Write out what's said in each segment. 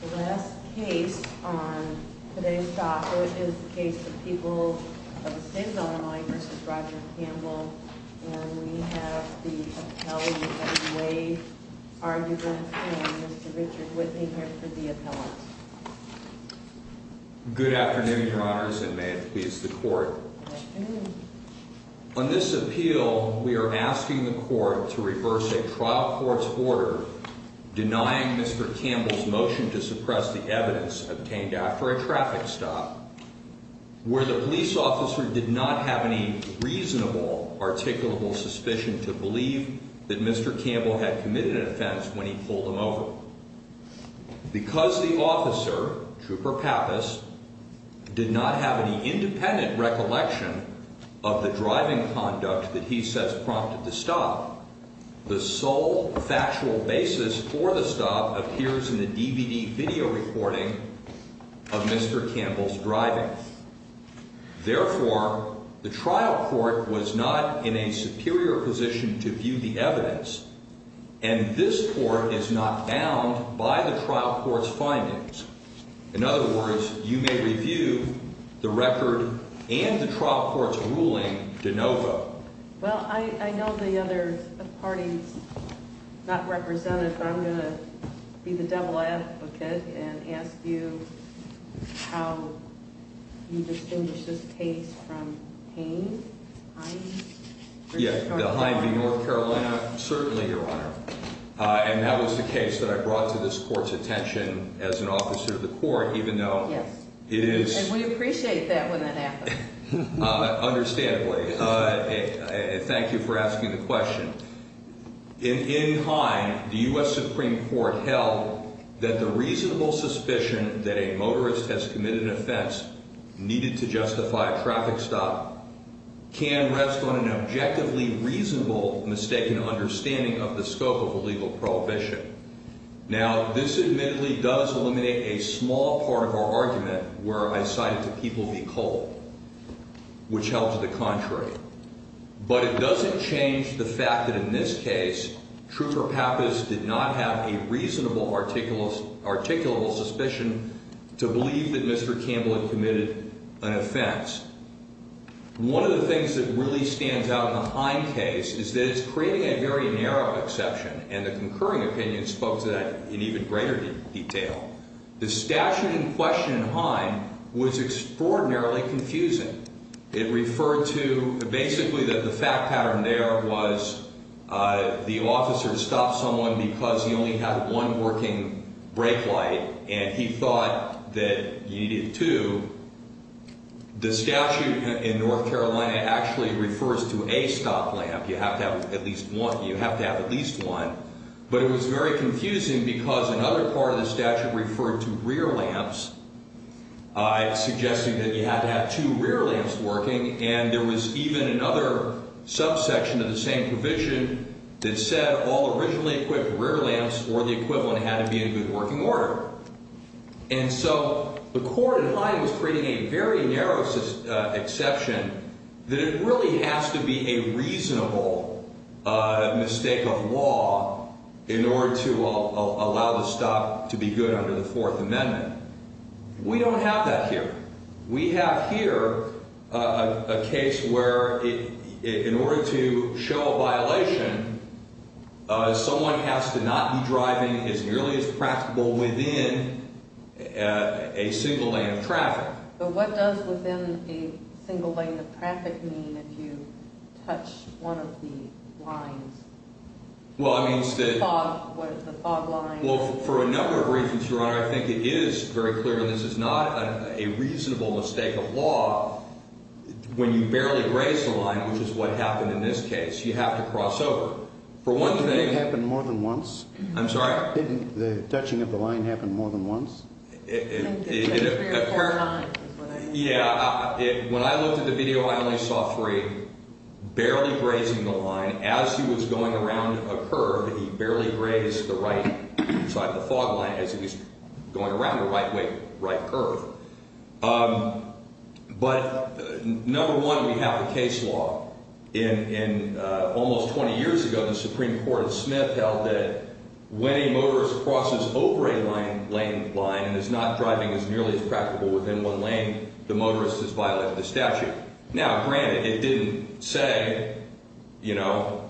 The last case on today's docket is the case of people of the same vote of mine v. Roger Campbell, and we have the appellee of the Wade argument, and Mr. Richard Whitney here for the appellate. Good afternoon, your honors, and may it please the court. On this appeal, we are asking the court to reverse a trial court's order denying Mr. Campbell's motion to suppress the evidence obtained after a traffic stop, where the police officer did not have any reasonable, articulable suspicion to believe that Mr. Campbell had committed an offense when he pulled him over. Because the officer, Trooper Pappas, did not have any independent recollection of the driving conduct that he says prompted the stop, the sole factual basis for the stop appears in the DVD video recording of Mr. Campbell's driving. Therefore, the trial court was not in a superior position to view the evidence, and this court is not bound by the trial court's findings. In other words, you may review the record and the trial court's ruling de novo. Well, I know the other party's not represented, but I'm going to be the double advocate and ask you how you distinguish this case from Haines, Hines, or North Carolina. Yeah, the Hines v. North Carolina, certainly, your honor. And that was the case that I brought to this court's attention as an officer of the court, even though it is... And we appreciate that when that happens. Understandably. Thank you for asking the question. In Hines, the U.S. Supreme Court held that the reasonable suspicion that a motorist has committed an offense needed to justify a traffic stop can rest on an objectively reasonable mistaken understanding of the scope of a legal prohibition. Now, this admittedly does eliminate a small part of our argument where I cited the people be cold, which held to the contrary. But it doesn't change the fact that in this case, Trooper Pappas did not have a reasonable articulable suspicion to believe that Mr. Campbell had committed an offense. One of the things that really stands out in the Hines case is that it's creating a very narrow exception, and the concurring opinion spoke to that in even greater detail. The statute in question in Hines was extraordinarily confusing. It referred to basically that the fact pattern there was the officer stopped someone because he only had one working brake light, and he thought that you needed two. The statute in North Carolina actually refers to a stop lamp. You have to have at least one. But it was very confusing because another part of the statute referred to rear lamps, suggesting that you had to have two rear lamps working, and there was even another subsection of the same provision that said all originally equipped rear lamps or the equivalent had to be in good working order. And so the court in Hines was creating a very narrow exception that it really has to be a reasonable mistake of law in order to allow the stop to be good under the Fourth Amendment. We don't have that here. We have here a case where in order to show a violation, someone has to not be driving as nearly as practicable within a single lane of traffic. But what does within a single lane of traffic mean if you touch one of the lines? Well, it means that... Fog. What is the fog line? Well, for a number of reasons, Your Honor, I think it is very clear that this is not a reasonable mistake of law. When you barely graze the line, which is what happened in this case, you have to cross over. For one thing... Didn't it happen more than once? I'm sorry? Didn't the touching of the line happen more than once? It occurred... Yeah. When I looked at the video, I only saw three. Barely grazing the line, as he was going around a curve, he barely grazed the right side of the fog line as he was going around a right curve. But, number one, we have a case law. Almost 20 years ago, the Supreme Court of Smith held that when a motorist crosses over a lane line and is not driving as nearly as practicable within one lane, the motorist has violated the statute. Now, granted, it didn't say, you know,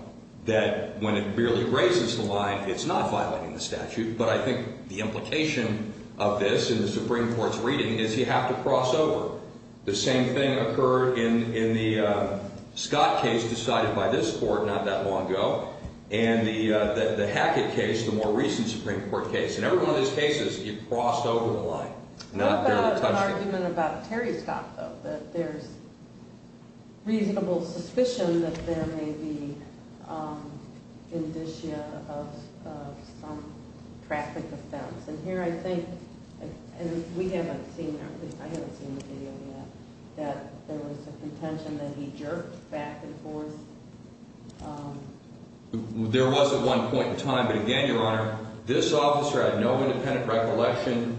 that when it barely grazes the line, it's not violating the statute. But I think the implication of this in the Supreme Court's reading is you have to cross over. The same thing occurred in the Scott case decided by this Court not that long ago and the Hackett case, the more recent Supreme Court case. In every one of these cases, you crossed over the line, not barely touched it. There's an argument about Terry Scott, though, that there's reasonable suspicion that there may be indicia of some traffic offense. And here I think, and we haven't seen, I haven't seen the video yet, that there was a contention that he jerked back and forth. There was at one point in time. But again, Your Honor, this officer had no independent recollection.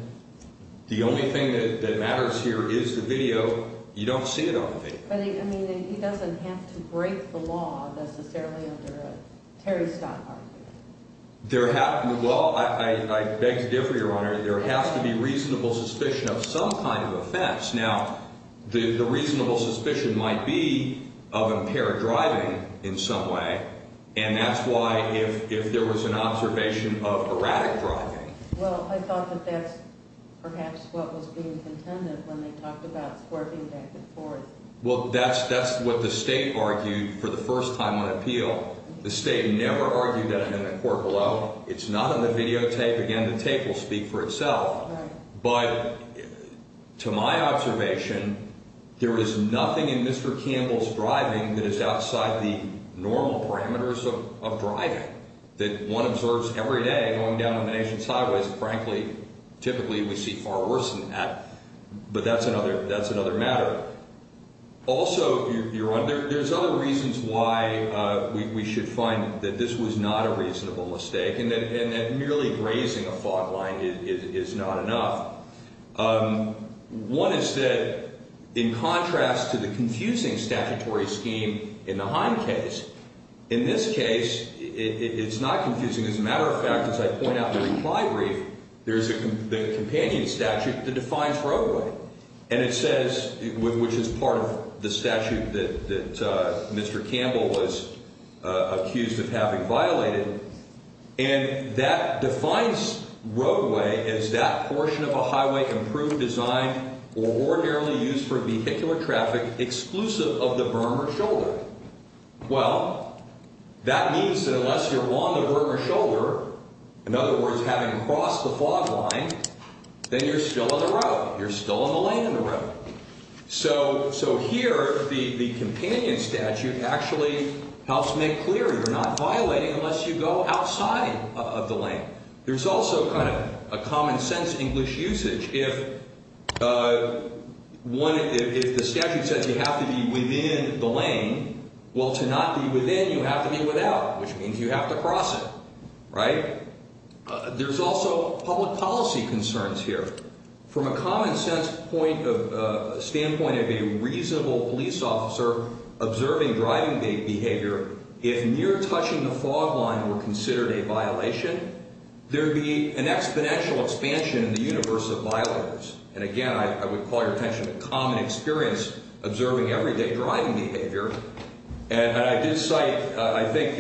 The only thing that matters here is the video. You don't see it on the video. But, I mean, he doesn't have to break the law necessarily under a Terry Scott argument. There have – well, I beg to differ, Your Honor. There has to be reasonable suspicion of some kind of offense. Now, the reasonable suspicion might be of impaired driving in some way, and that's why if there was an observation of erratic driving. Well, I thought that that's perhaps what was being contended when they talked about swerving back and forth. Well, that's what the State argued for the first time on appeal. The State never argued that amendment court below. It's not on the videotape. Again, the tape will speak for itself. Right. But to my observation, there is nothing in Mr. Campbell's driving that is outside the normal parameters of driving, that one observes every day going down the nation's highways. Frankly, typically we see far worse than that. But that's another matter. Also, Your Honor, there's other reasons why we should find that this was not a reasonable mistake and that merely grazing a fog line is not enough. One is that in contrast to the confusing statutory scheme in the Heim case, in this case it's not confusing. As a matter of fact, as I point out in the reply brief, there's the companion statute that defines roadway, and it says, which is part of the statute that Mr. Campbell was accused of having violated, and that defines roadway as that portion of a highway improved, designed, or ordinarily used for vehicular traffic exclusive of the berm or shoulder. Well, that means that unless you're on the berm or shoulder, in other words, having crossed the fog line, then you're still on the road. You're still on the lane in the road. So here the companion statute actually helps make clear you're not violating unless you go outside of the lane. There's also kind of a common sense English usage. If the statute says you have to be within the lane, well, to not be within you have to be without, which means you have to cross it, right? There's also public policy concerns here. From a common sense standpoint of a reasonable police officer observing driving behavior, if near touching the fog line were considered a violation, there would be an exponential expansion in the universe of violators. And, again, I would call your attention to common experience observing everyday driving behavior. And I did cite, I think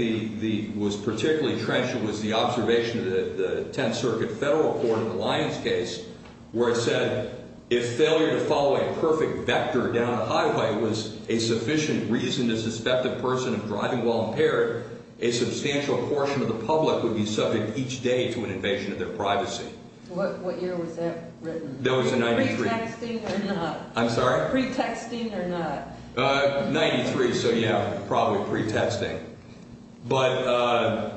particularly trenchant was the observation of the Tenth Circuit Federal Court in the Lyons case where it said if failure to follow a perfect vector down a highway was a sufficient reason to suspect a person of driving while impaired, a substantial portion of the public would be subject each day to an invasion of their privacy. What year was that written? That was in 93. Pre-texting or not? I'm sorry? Pre-texting or not? 93. So, yeah, probably pre-testing. But,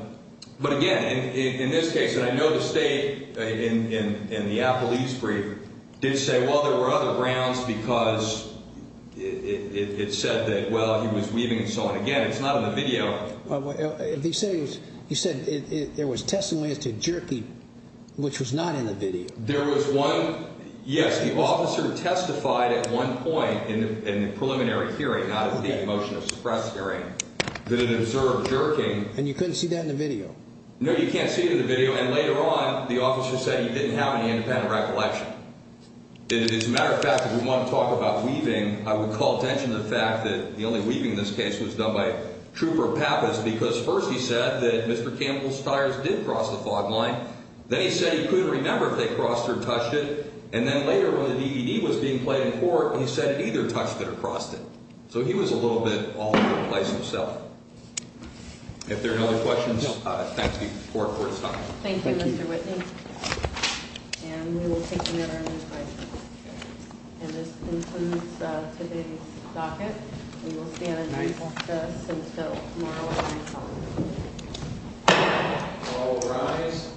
again, in this case, and I know the state in the Apple East brief did say, well, there were other grounds because it said that, well, he was weaving and so on. Again, it's not in the video. He said there was testimony as to jerky, which was not in the video. There was one, yes, the officer testified at one point in the preliminary hearing, not in the motion of suppress hearing, that it observed jerking. And you couldn't see that in the video? No, you can't see it in the video. And later on, the officer said he didn't have any independent recollection. As a matter of fact, if we want to talk about weaving, I would call attention to the fact that the only weaving in this case was done by Trooper Pappas because first he said that Mr. Campbell's tires did cross the fog line. Then he said he couldn't remember if they crossed or touched it. And then later when the DVD was being played in court, he said either touched it or crossed it. So he was a little bit off in a place himself. If there are no other questions, thanks to the court for his time. Thank you, Mr. Whitney. And we will take another one. And this concludes today's docket. We will stand and recess until tomorrow at 9 o'clock. All rise.